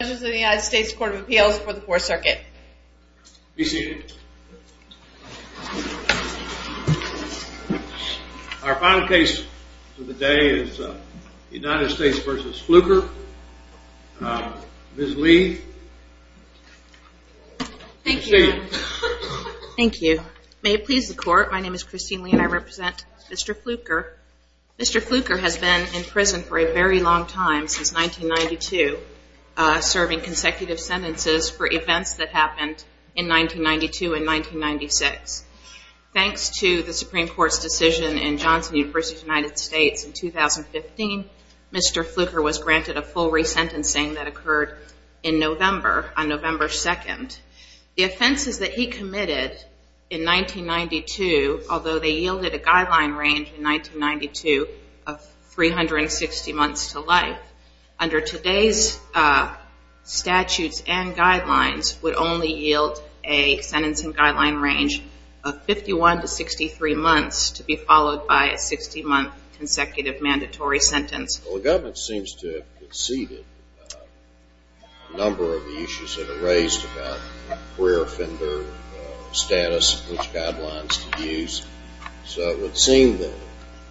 United States Court of Appeals for the Fourth Circuit. Be seated. Our final case for the day is United States v. Fluker. Ms. Lee. Thank you. Thank you. May it please the Court, my name is Christine Lee and I represent Mr. Fluker. Mr. Fluker has been in prison for a very long time since 1992 serving consecutive sentences for events that happened in 1992 and 1996. Thanks to the Supreme Court's decision in Johnson University, United States in 2015, Mr. Fluker was granted a full resentencing that occurred in November, on November 2nd. The offenses that he committed in 1992, although they yielded a guideline range in 1992 of 360 months to life, under today's statutes and guidelines would only yield a sentencing guideline range of 51 to 63 months to be followed by a 60-month consecutive mandatory sentence. Well, the government seems to have conceded a number of the issues that are raised about career offender status, which guidelines to use, so it seems that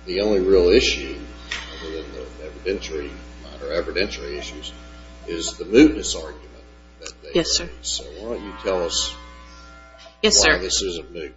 the only real issue in the evidentiary issues is the mootness argument. Yes, sir. So why don't you tell us why this isn't moot.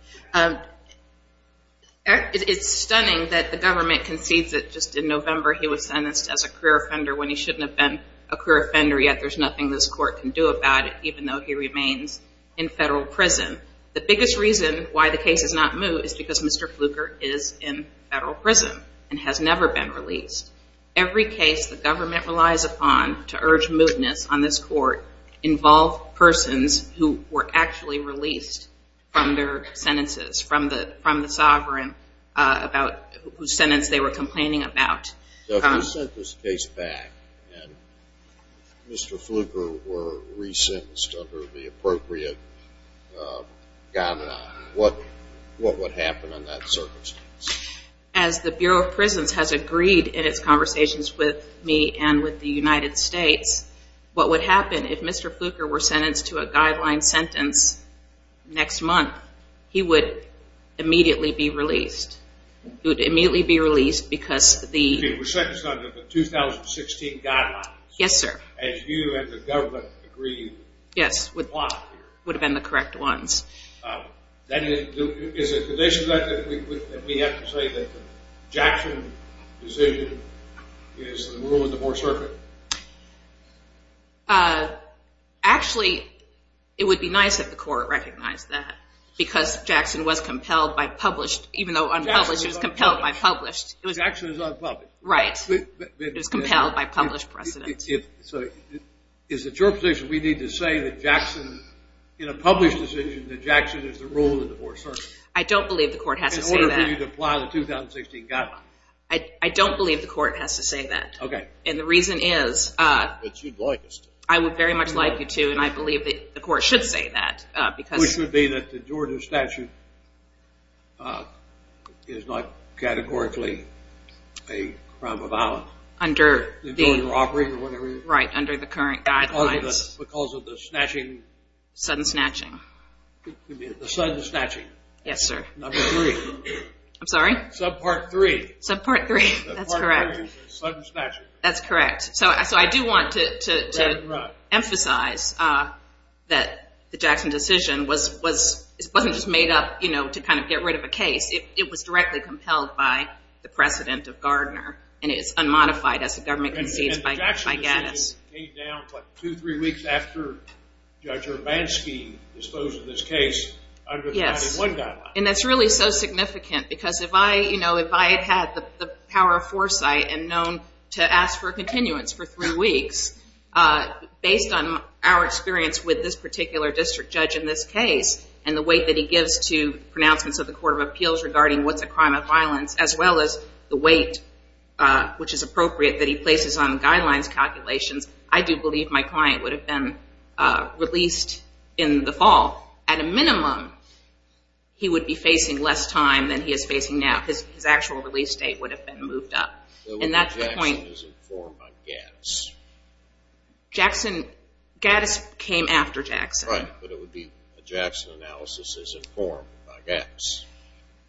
It's stunning that the government concedes that just in November he was sentenced as a career offender when he shouldn't have been a career offender yet. There's nothing this Court can do about it, even though he remains in federal prison. The biggest reason why the case is not moot is because Mr. Fluker is in federal prison and has never been released. Every case the government relies upon to urge mootness on this Court involve persons who were actually released from their sentences, from the sovereign about whose sentence they were complaining about. So if you sent this case back and Mr. Fluker were resentenced under the 2016 guidelines, as you and the government agreed, would have been the case? Actually, it would be nice if the Court recognized that because Jackson was compelled by published, even though unpublished, it was compelled by published. Jackson is unpublished. Right. It was compelled by published precedents. So is it your position we need to say that Jackson, in a order for you to apply the 2016 guidelines? I don't believe the Court has to say that. Okay. And the reason is, I would very much like you to and I believe the Court should say that. Which would be that the Jordan statute is not categorically a crime of violence? Under the current guidelines. Because of the snatching? Sudden snatching. The sudden snatching. I'm sorry? Subpart 3. Subpart 3. That's correct. Sudden snatching. That's correct. So I do want to emphasize that the Jackson decision wasn't just made up to kind of get rid of a case. It was directly compelled by the precedent of Gardner and it's unmodified as the government concedes by Gattis. And the Jackson decision came down two, three weeks after Judge Urbanski disposed of this case under the Jackson statute. Which is so significant. Because if I had had the power of foresight and known to ask for a continuance for three weeks, based on our experience with this particular district judge in this case and the weight that he gives to pronouncements of the Court of Appeals regarding what's a crime of violence, as well as the weight which is appropriate that he places on the guidelines calculations, I do believe my client would have been released in the fall. At a minimum, he would be facing less time than he is facing now. His actual release date would have been moved up. And that's the point. Jackson, Gattis came after Jackson. Right. But it would be a Jackson analysis as informed by Gattis.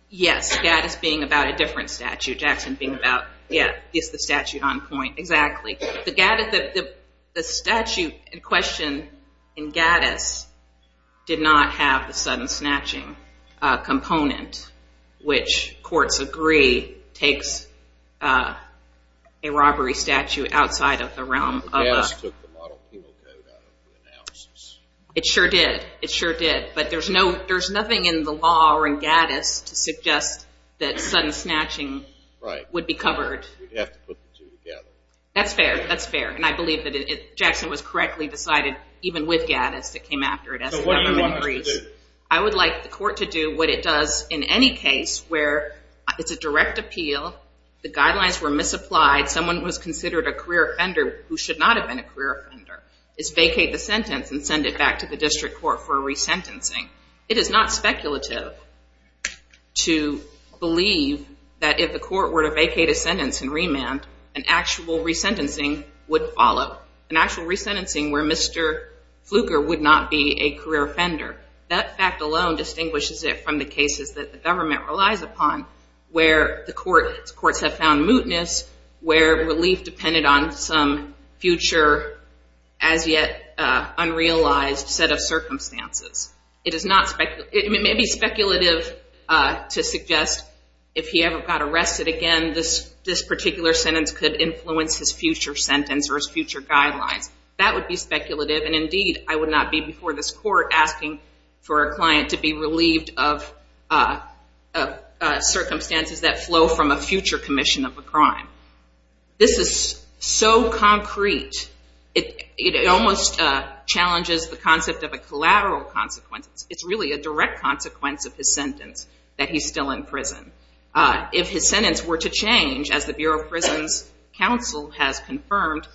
Yes. Gattis being about a different statute. Jackson being about, yeah, it's the statute on point. Exactly. The statute in question in Gattis did not have the sudden snatching component, which courts agree takes a robbery statute outside of the realm of... Gattis took the model penal code out of the analysis. It sure did. It sure did. But there's nothing in the law or in Gattis to suggest that sudden snatching would be covered. Right. You'd have to put the two together. That's fair. That's fair. And I believe that Jackson was correctly decided even with Gattis that came after it as the government agrees. So what do you want the court to do? I would like the court to do what it does in any case where it's a direct appeal, the guidelines were misapplied, someone was considered a career offender who should not have been a career offender, is vacate the sentence and send it back to the district court for resentencing. It is not speculative to believe that if the court were to vacate a sentence, an actual resentencing would follow. An actual resentencing where Mr. Fluker would not be a career offender. That fact alone distinguishes it from the cases that the government relies upon where the courts have found mootness, where relief depended on some future as yet unrealized set of circumstances. It may be speculative to believe that a sentence could influence his future sentence or his future guidelines. That would be speculative and indeed I would not be before this court asking for a client to be relieved of circumstances that flow from a future commission of a crime. This is so concrete, it almost challenges the concept of a collateral consequence. It's really a direct consequence of his sentence that he's still in prison. If his counsel has confirmed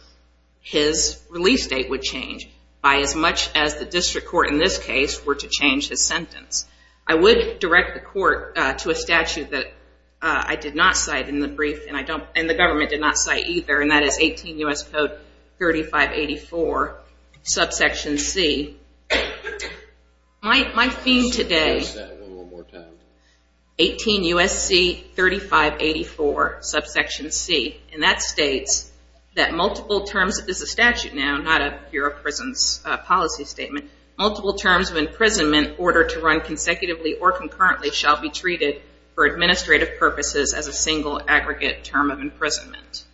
his release date would change by as much as the district court in this case were to change his sentence. I would direct the court to a statute that I did not cite in the brief and the government did not cite either and that is 18 U.S. Code 3584 subsection C. My theme states that multiple terms of imprisonment order to run consecutively or concurrently shall be treated for administrative purposes as a single aggregate term of imprisonment.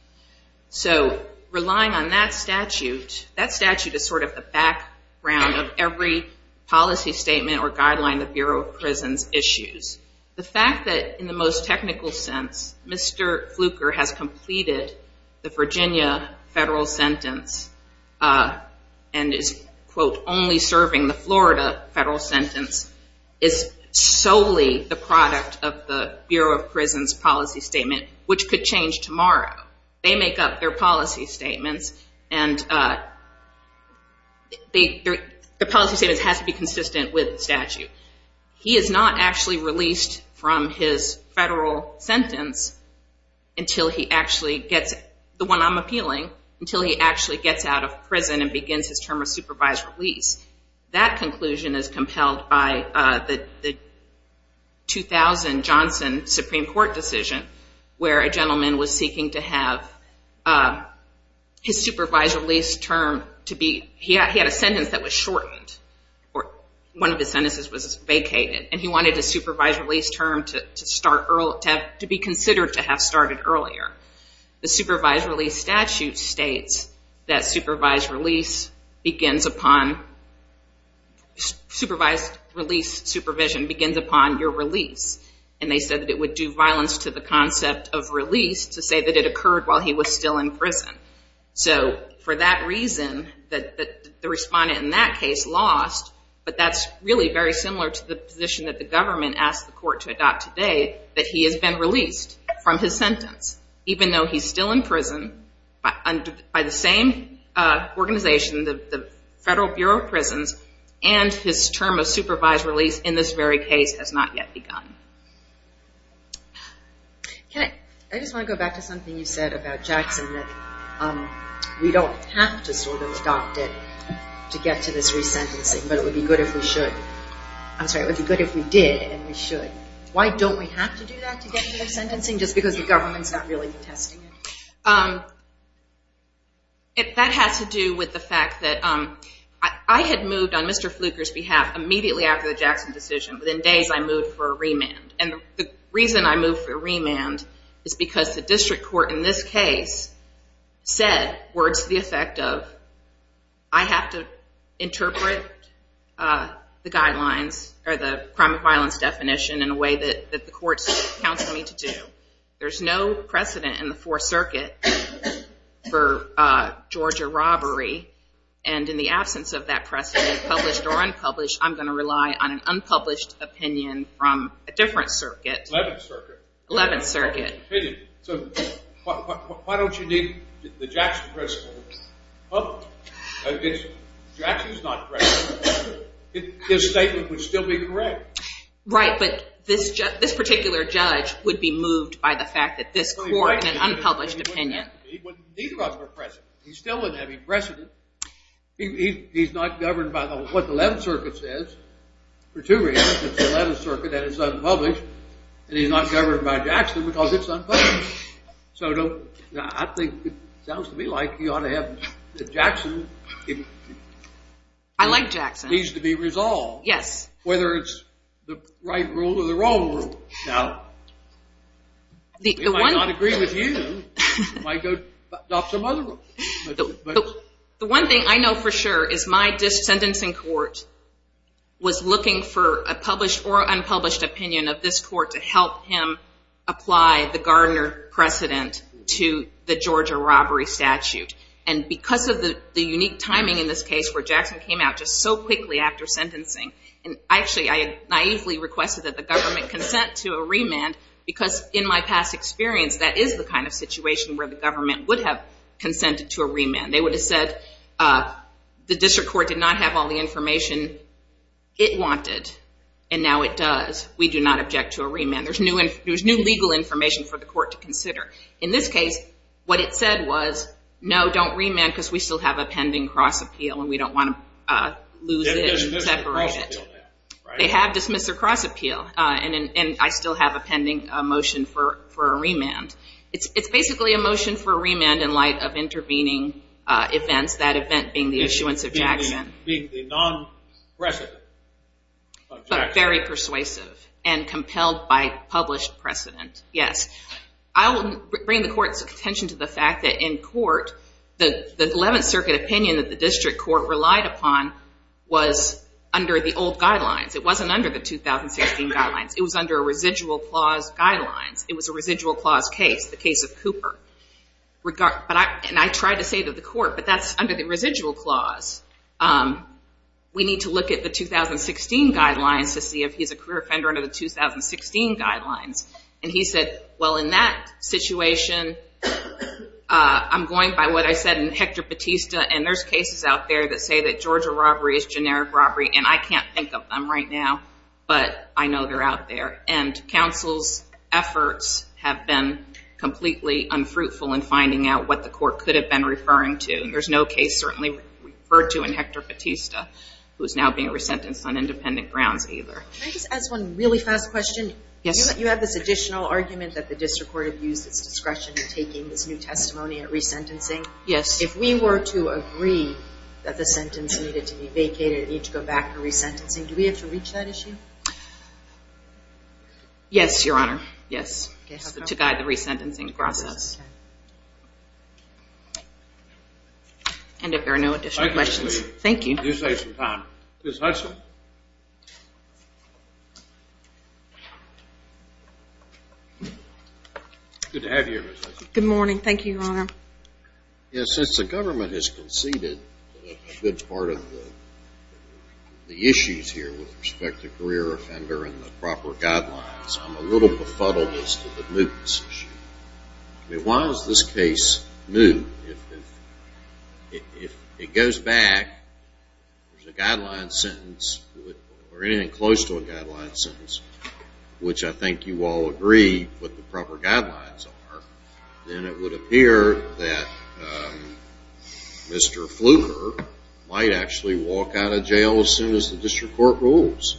Relying on that statute, that statute is sort of the background of every policy statement or guideline the Bureau of Prisons issues. The fact that in the most technical sense Mr. Fluker has completed the Virginia federal sentence and is quote only serving the Florida federal sentence is solely the product of the Bureau of Prisons policy statement which could change tomorrow. They make up their policy statements and the policy statement has to be consistent with the statute. He is not actually released from his federal sentence until he actually gets, the one I'm appealing, until he actually gets out of prison and begins his term of supervised release. That conclusion is compelled by the 2000 Johnson Supreme Court decision where a gentleman was seeking to have his supervised release term to be, he had a sentence that was shortened or one of the sentences was vacated and he wanted his supervised release term to be considered to have started earlier. The supervised release statute states that supervised release begins upon, supervised release supervision begins upon your release. They said that it would do violence to the concept of release to say that it occurred while he was still in prison. For that very similar to the position that the government asked the court to adopt today that he has been released from his sentence even though he's still in prison by the same organization, the Federal Bureau of Prisons and his term of supervised release in this very case has not yet begun. Okay I just want to go back to something you said about Jackson that we don't have to sort of adopt it to get to this resentencing but it would be good if we should. I'm sorry, it would be good if we did and we should. Why don't we have to do that to get to the sentencing just because the government's not really testing it? That has to do with the fact that I had moved on Mr. Fluker's behalf immediately after the Jackson decision. Within days I moved for a remand and the reason I moved for a remand is because the district court in this case said words to the effect of I have to interpret the guidelines or the crime of violence definition in a way that the courts counsel me to do. There's no precedent in the Fourth Circuit for Georgia robbery and in the absence of that precedent published or unpublished I'm going to rely on an unpublished opinion from a different circuit. 11th Circuit. 11th Circuit. So why don't you need the Jackson principle? Jackson's not present. His statement would still be correct. Right but this particular judge would be moved by the fact that this court had an unpublished opinion. He still wouldn't have any precedent. He's not governed by what the 11th Circuit said is unpublished and he's not governed by Jackson because it's unpublished. So I think it sounds to me like you ought to have the Jackson. I like Jackson. It needs to be resolved. Yes. Whether it's the right rule or the wrong rule. Now the one thing I know for sure is my or unpublished opinion of this court to help him apply the Gardner precedent to the Georgia robbery statute and because of the the unique timing in this case where Jackson came out just so quickly after sentencing and actually I had naively requested that the government consent to a remand because in my past experience that is the kind of situation where the government would have consented to a remand. They would have said the district court did not have all the information it wanted and now it does. We do not object to a remand. There's new and there's new legal information for the court to consider. In this case what it said was no don't remand because we still have a pending cross appeal and we don't want to lose it and separate it. They have dismissed a cross appeal and I still have a pending motion for a remand. It's basically a motion for a remand in light of intervening events that event being the issuance of Jackson. Being the non precedent of Jackson. But very persuasive and compelled by published precedent. Yes. I will bring the court's attention to the fact that in court the the 11th Circuit opinion that the district court relied upon was under the old guidelines. It wasn't under the 2016 guidelines. It was under a residual clause guidelines. It was a residual clause case. The case of Cooper. But I and I tried to say to the court but that's under the residual clause. We need to look at the 2016 guidelines to see if he's a career offender under the 2016 guidelines. And he said well in that situation I'm going by what I said in Hector Batista and there's cases out there that say that Georgia robbery is generic robbery and I can't think of them right now but I know they're out there. And counsel's efforts have been completely unfruitful in finding out what the court could have been referring to. There's no case certainly referred to in Hector Batista who is now being resentenced on independent grounds either. Can I just ask one really fast question? Yes. You have this additional argument that the district court used its discretion in taking this new testimony at resentencing. Yes. If we were to agree that the sentence needed to be vacated, it needed to go back to resentencing, do we have to reach that issue? Yes, your honor. Yes. To guide the resentencing process. And if there are no additional questions. Thank you. Good morning. Thank you, your honor. Yes, since the government has conceded that part of the issues here with respect to career offender and the proper guidelines, I'm a little befuddled as to the mootness issue. Why is this case moot? If it goes back, there's a guideline sentence or anything close to a guideline sentence, which I think you all agree what the proper guidelines are, then it would appear that Mr. Fluker might actually walk out of jail as soon as the district court rules.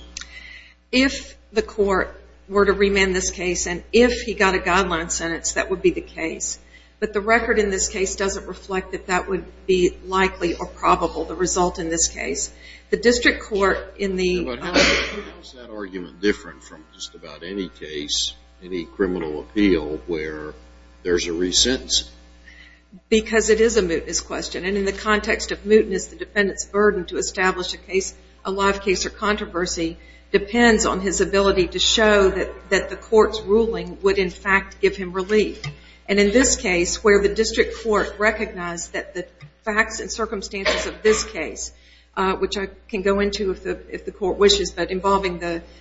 If the court were to remand this case and if he got a guideline sentence, that would be the case. But the record in this case doesn't reflect that that would be likely or probable the result in this case. The district court in the... How is that argument different from just about any case, any criminal appeal where there's a resentencing? Because it is a mootness question. And in the context of mootness, the defendant's burden to establish a live case or controversy depends on his ability to show that the court's ruling would in fact give him relief. And in this case, where the district court recognized that the facts and circumstances of this case, which I can go into if the court wishes, but involving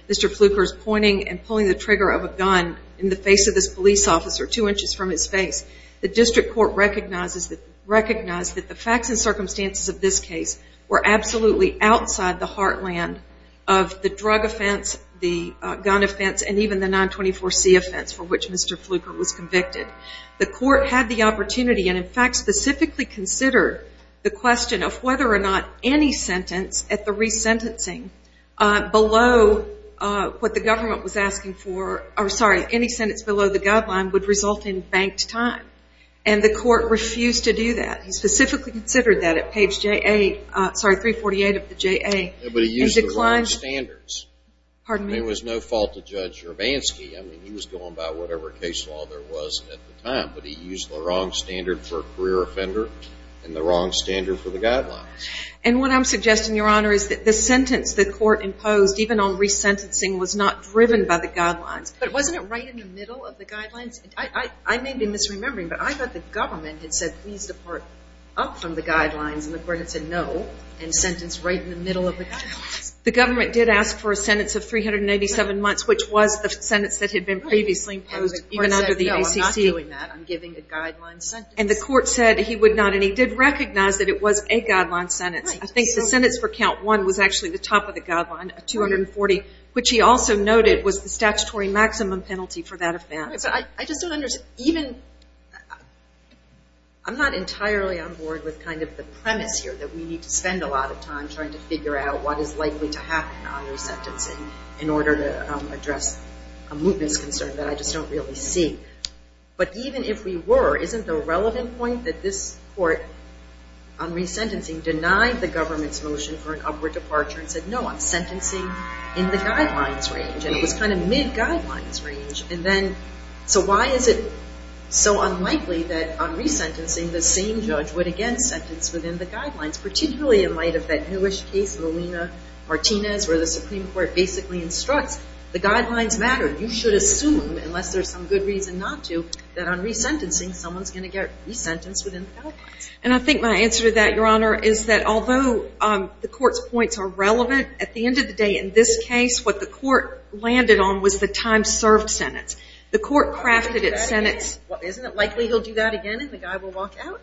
Mr. Fluker's pointing and pulling the trigger of a gun in the face of this police officer two inches from his face, the district court recognized that the facts and circumstances of this case were absolutely outside the heartland of the drug offense, the gun offense, and even the 924C offense for which Mr. Fluker was convicted. The court had the opportunity and in fact specifically considered the question of whether or not any sentence at the resentencing below what the government was asking for, or sorry, any sentence below the guideline would result in banked time. And the court refused to do that. He specifically considered that at page J8, sorry, 348 of the J8. But he used the wrong standards. Pardon me? I mean, it was no fault of Judge Jurvansky. I mean, he was going by whatever case law there was at the time, but he used the wrong standard for a career offender and the wrong standard for the guidelines. And what I'm suggesting, Your Honor, is that the sentence the court imposed, even on resentencing, was not driven by the guidelines. But wasn't it right in the middle of the guidelines? I may be misremembering, but I thought the government had said, please depart up from the guidelines, and the court had said, no, and sentenced right in the middle of the guidelines. The government did ask for a sentence of 387 months, which was the sentence that had been previously imposed even under the ACC. And the court said, no, I'm not doing that. I'm giving a guideline sentence. And the court said he would not, and he did recognize that it was a guideline sentence. I think the sentence for count one was actually the top of the guideline, a 240, which he also noted was the statutory maximum penalty for that offense. I just don't understand. Even, I'm not entirely on board with kind of the premise here that we need to spend a lot of time trying to figure out what is likely to happen on resentencing in order to address a mootness concern that I just don't really see. But even if we were, isn't the relevant point that this court on resentencing denied the government's motion for an upward departure and said, no, I'm sentencing in the guidelines range, and it was kind of mid-guidelines range. And then, so why is it so unlikely that on resentencing, the same judge would again sentence within the guidelines, particularly in light of that newish case, Molina-Martinez, where the Supreme Court basically instructs the guidelines matter. You should assume, unless there's some good reason not to, that on resentencing, someone's going to get resentenced within the guidelines. And I think my answer to that, Your Honor, is that although the court's points are relevant, at the end of the day, in this case, what the court landed on was the time served sentence. The court crafted its sentence. Well, isn't it likely he'll do that again, and the guy will walk out?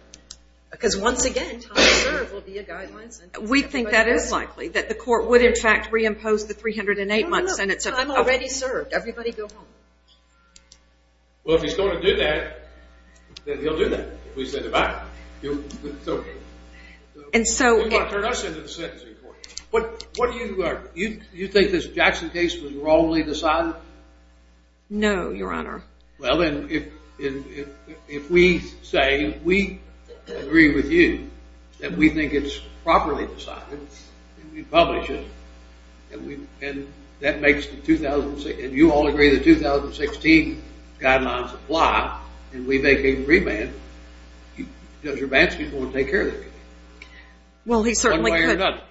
Because once again, time served will be a guideline sentence. We think that is likely, that the court would, in fact, reimpose the 308-month sentence. Time already served. Everybody go home. Well, if he's going to do that, then he'll do that. If we send him out, it's OK. And so it would turn us into the sentencing court. But what do you argue? You think this Jackson case was wrongly decided? No, Your Honor. Well, then, if we say we agree with you, that we think it's properly decided, then we publish it. And that makes the 2006, and you all agree the 2016 guidelines apply, and we make a remand. Judge Urbanski is going to take care of the case. Well, he certainly could.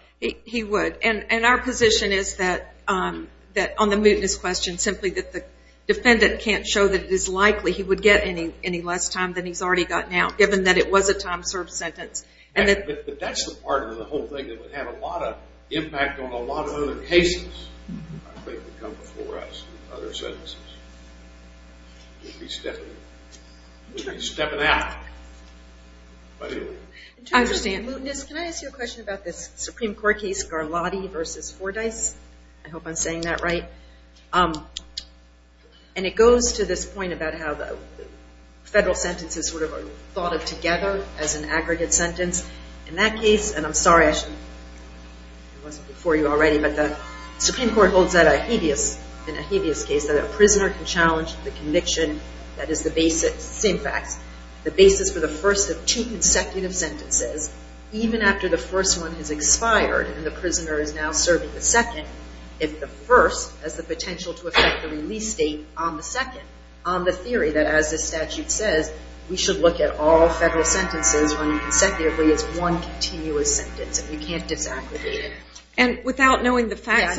He would. And our position is that, on the mootness question, simply that the defendant can't show that it is likely he would get any less time than he's already got now, given that it was a time served sentence. But that's the part of the whole thing that would have a lot of impact on a lot of other cases that would come before us in other sentences. We'd be stepping out. I understand. Mootness, can I ask you a question about this Supreme Court case, Garlotti versus Fordyce? I hope I'm saying that right. And it goes to this point about how the federal sentences sort of are thought of together as an aggregate sentence. In that case, and I'm sorry I wasn't before you already, but the Supreme Court holds that a habeas, in a habeas case, that a prisoner can challenge the conviction that is the basis, same facts, the basis for the first of two consecutive sentences, even after the first one has expired and the prisoner is now serving the second, if the first has the potential to affect the release date on the second, on the theory that, as the statute says, we should look at all federal sentences running consecutively as one continuous sentence, and we can't disaggregate it. And without knowing the facts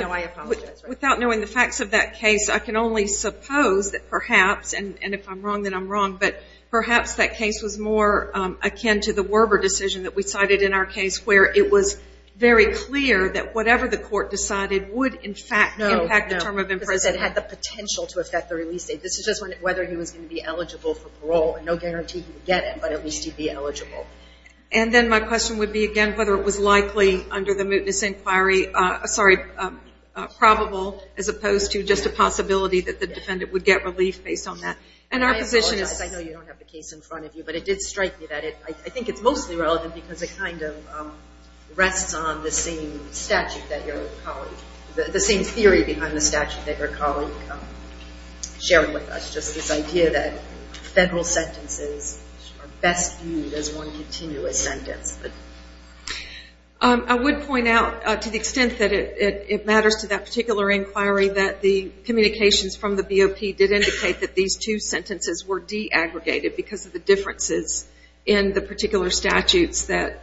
of that case, I can only suppose that perhaps, and if I'm wrong, then I'm wrong, but perhaps that case was more akin to the Werber decision that we cited in our case, where it was very clear that whatever the court decided would, in fact, impact the term of imprisonment. No, because it had the potential to affect the release date. This is just whether he was going to be eligible for parole, and no guarantee he would get it, but at least he'd be eligible. And then my question would be, again, whether it was likely under the mootness inquiry, sorry, probable, as opposed to just a possibility that the defendant would get relief based on that. I apologize, I know you don't have the case in front of you, but it did strike me that it, I think it's mostly relevant because it kind of rests on the same statute that your colleague, the same theory behind the statute that your colleague shared with us, just this idea that federal sentences are best viewed as one continuous sentence. I would point out, to the extent that it matters to that particular inquiry, that the communications from the BOP did indicate that these two sentences were de-aggregated because of the differences in the particular statutes that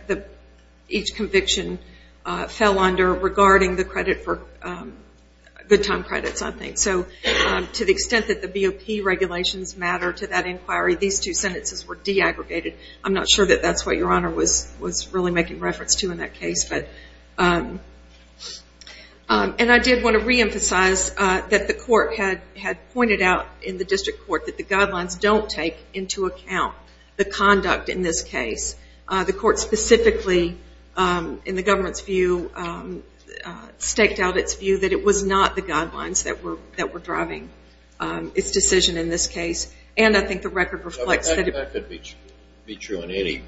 each conviction fell under regarding the credit for, good time credits, I think. So to the extent that the BOP regulations matter to that inquiry, these two sentences were de-aggregated. I'm not sure that that's what your honor was really making reference to in that case, but, and I did want to reemphasize that the court had pointed out in the district court that the guidelines don't take into account the conduct in this case. The court specifically, in the government's view, staked out its view that it was not the guidelines that were driving its decision in this case, and I think the record reflects that. That could be true in any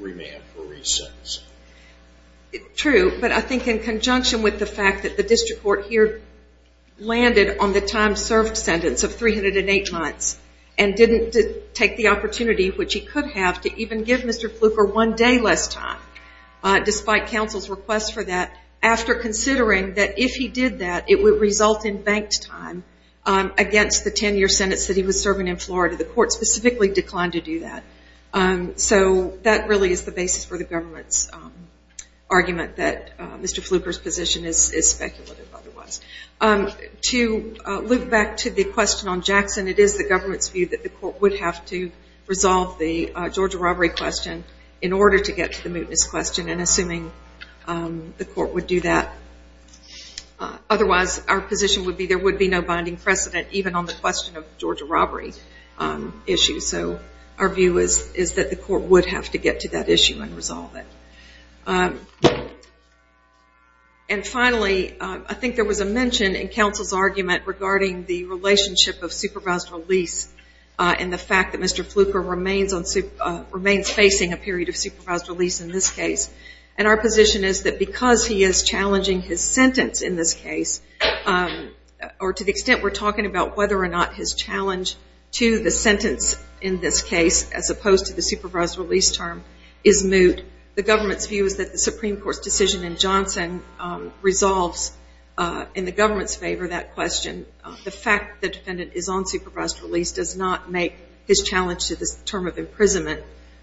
remand for re-sentence. True, but I think in conjunction with the fact that the district court here landed on the time served sentence of 308 months and didn't take the opportunity, which he could have, to even give Mr. Fluker one day less time, despite counsel's request for that, after considering that if he did that, it would result in banked time against the 10-year sentence that he was serving in Florida. The court specifically declined to do that. So that really is the basis for the government's argument that Mr. Fluker's position is speculative otherwise. To loop back to the question on Jackson, it is the government's view that the court would have to resolve the Georgia robbery question in order to get to the mootness question, and assuming the court would do that. Otherwise, our position would be there would be no binding precedent even on the question of the Georgia robbery issue. So our view is that the court would have to get to that issue and resolve it. And finally, I think there was a mention in counsel's argument regarding the relationship of supervised release and the fact that Mr. Fluker remains facing a period of supervised release in this case. And our position is that because he is challenging his sentence in this case, or to the extent we're talking about whether or not his challenge to the sentence in this case, as opposed to the supervised release term, is moot, the government's view is that the Supreme Court's decision in Johnson resolves in the government's favor that question. The fact that the defendant is on supervised release does not make his challenge to this term of imprisonment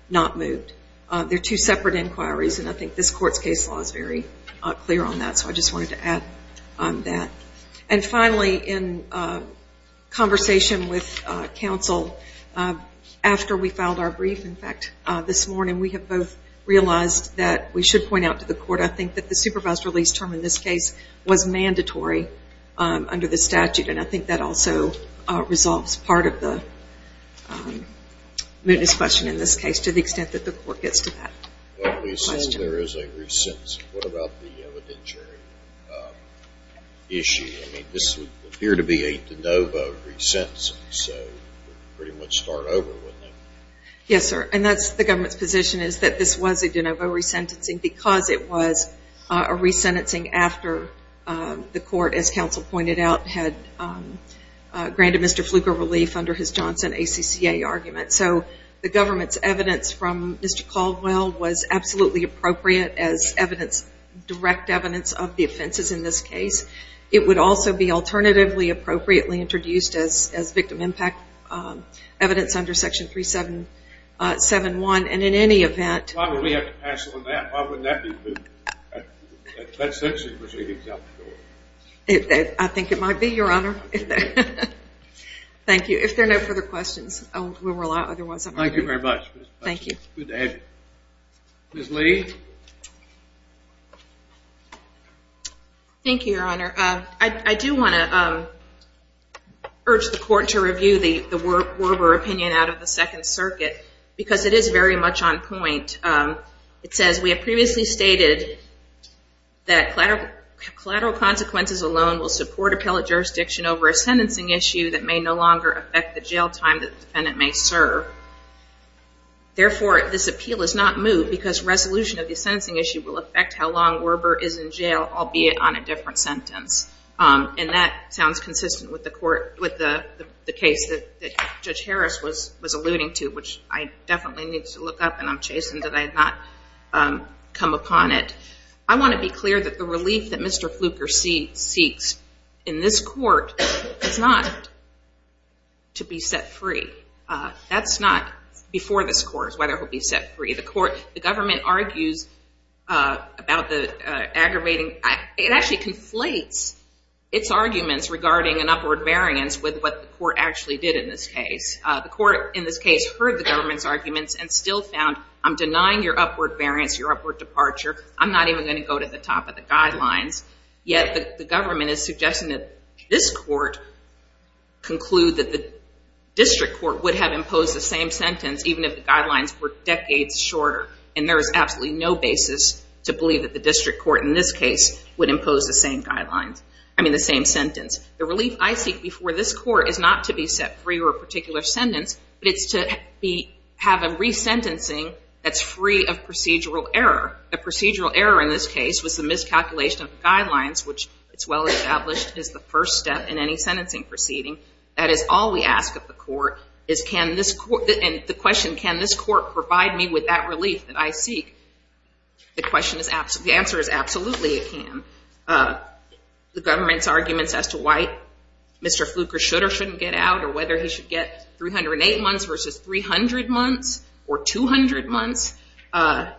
not moot. They're two separate inquiries, and I think this court's case law is very clear on that, so I just wanted to add on that. And finally, in conversation with counsel, after we filed our brief, in fact, this morning, we have both realized that we should point out to the court, I think, that the supervised release term in this case was mandatory under the statute, and I think that also resolves part of the mootness question in this case, to the extent that the court gets to that. Well, at least since there is a re-sentencing, what about the evidentiary issue? I mean, this would appear to be a de novo re-sentencing, so it would pretty much start over, wouldn't it? Yes, sir. And that's the government's position, is that this was a de novo re-sentencing because it was a re-sentencing after the court, as counsel pointed out, had granted Mr. Fluke a relief under his Johnson ACCA argument. So, the government's evidence from Mr. Caldwell was absolutely appropriate as evidence, direct evidence of the offenses in this case. It would also be alternatively appropriately introduced as victim impact evidence under Section 3771, and in any event... Why would we have to pass on that? Why wouldn't that be moot? That sentence was already dealt with. I think it might be, Your Honor. Thank you. If there are no further questions, I will rely... Thank you very much. Thank you. Good to have you. Ms. Lee? Thank you, Your Honor. I do want to urge the court to review the Werber opinion out of the Second Circuit, because it is very much on point. It says, we have previously stated that collateral consequences alone will support appellate jurisdiction over a sentencing issue that may no longer affect the jail time that the defendant may serve. Therefore, this appeal is not moot because resolution of the sentencing issue will affect how long Werber is in jail, albeit on a different sentence. And that sounds consistent with the case that Judge Harris was alluding to, which I definitely need to look up, and I'm chastened that I have not come upon it. I want to be clear that the relief that Mr. Fluker seeks in this court is not to be set free. That's not before this court is whether he'll be set free. The government argues about the aggravating... It actually conflates its arguments regarding an upward variance with what the court actually did in this case. The court in this case heard the government's arguments and still found, I'm denying your upward variance, your upward departure. I'm not even going to go to the top of the guidelines. Yet, the government is suggesting that this court conclude that the district court would have imposed the same sentence, even if the guidelines were decades shorter. And there is absolutely no basis to believe that the district court in this case would impose the same sentence. The relief I seek before this court is not to be set free or a particular sentence, but it's to have a resentencing that's free of procedural error. A procedural error in this case was the miscalculation of the guidelines, which, it's well established, is the first step in any sentencing proceeding. That is all we ask of the court. And the question, can this court provide me with that relief that I seek? The answer is absolutely it can. The government's arguments as to why Mr. Fluker should or shouldn't get out, or whether he should get 308 months versus 300 months or 200 months,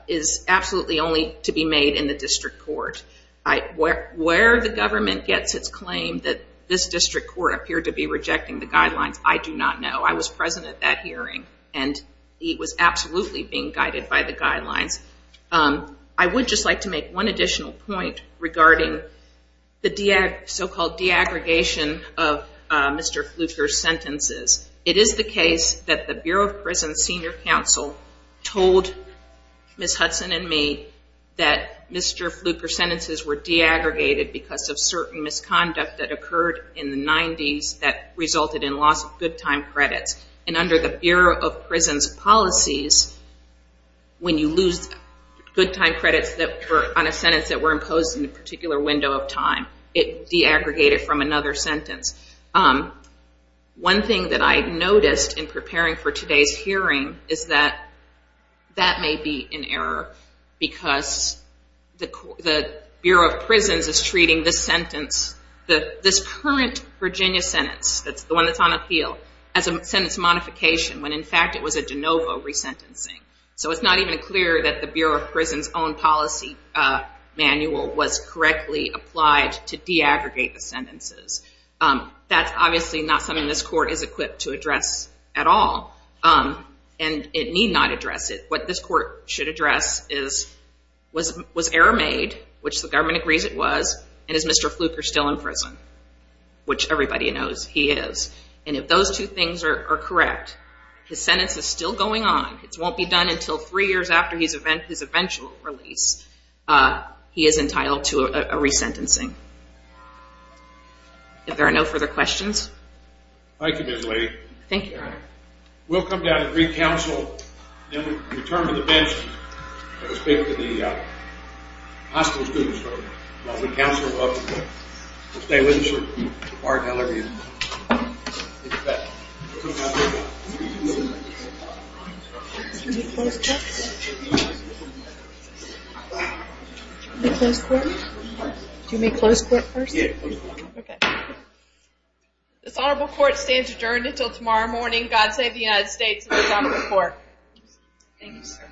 is absolutely only to be made in the district court. Where the government gets its claim that this district court appeared to be rejecting the guidelines, I do not know. I was present at that hearing, and he was absolutely being guided by the guidelines. I would just like to make one additional point regarding the so-called de-aggregation of Mr. Fluker's sentences. It is the case that the Bureau of Prisons Senior Counsel told Ms. Hudson and me that Mr. Fluker's sentences were de-aggregated because of certain misconduct that occurred in the 90s that resulted in loss of good time credits. And under the Bureau of Prisons policies, when you lose good time credits on a sentence that were imposed in a particular window of time, it de-aggregated from another sentence. One thing that I noticed in preparing for today's hearing is that that may be in error because the Bureau of Prisons is treating this sentence, this current Virginia sentence, that's the one that's on appeal, as a sentence modification when in fact it was a de novo resentencing. So it's not even clear that the Bureau of Prisons' own policy manual was correctly applied to de-aggregate the sentences. That's obviously not something this court is equipped to address at all, and it need not address it. What this court should address is, was error made, which the government agrees it was, and is Mr. Fluker still in prison? Which everybody knows he is. And if those two things are correct, his sentence is still going on, it won't be done until three years after his eventual release, he is entitled to a resentencing. If there are no further questions. Thank you, Ms. Lee. Thank you, Your Honor. We'll come down and re-counsel, then we'll return to the bench and speak to the hospital students. While we counsel, we'll stay with you. Do you want me to close court first? Yes, please. This Honorable Court stands adjourned until tomorrow morning. God save the United States of the Honorable Court. Thank you, sir.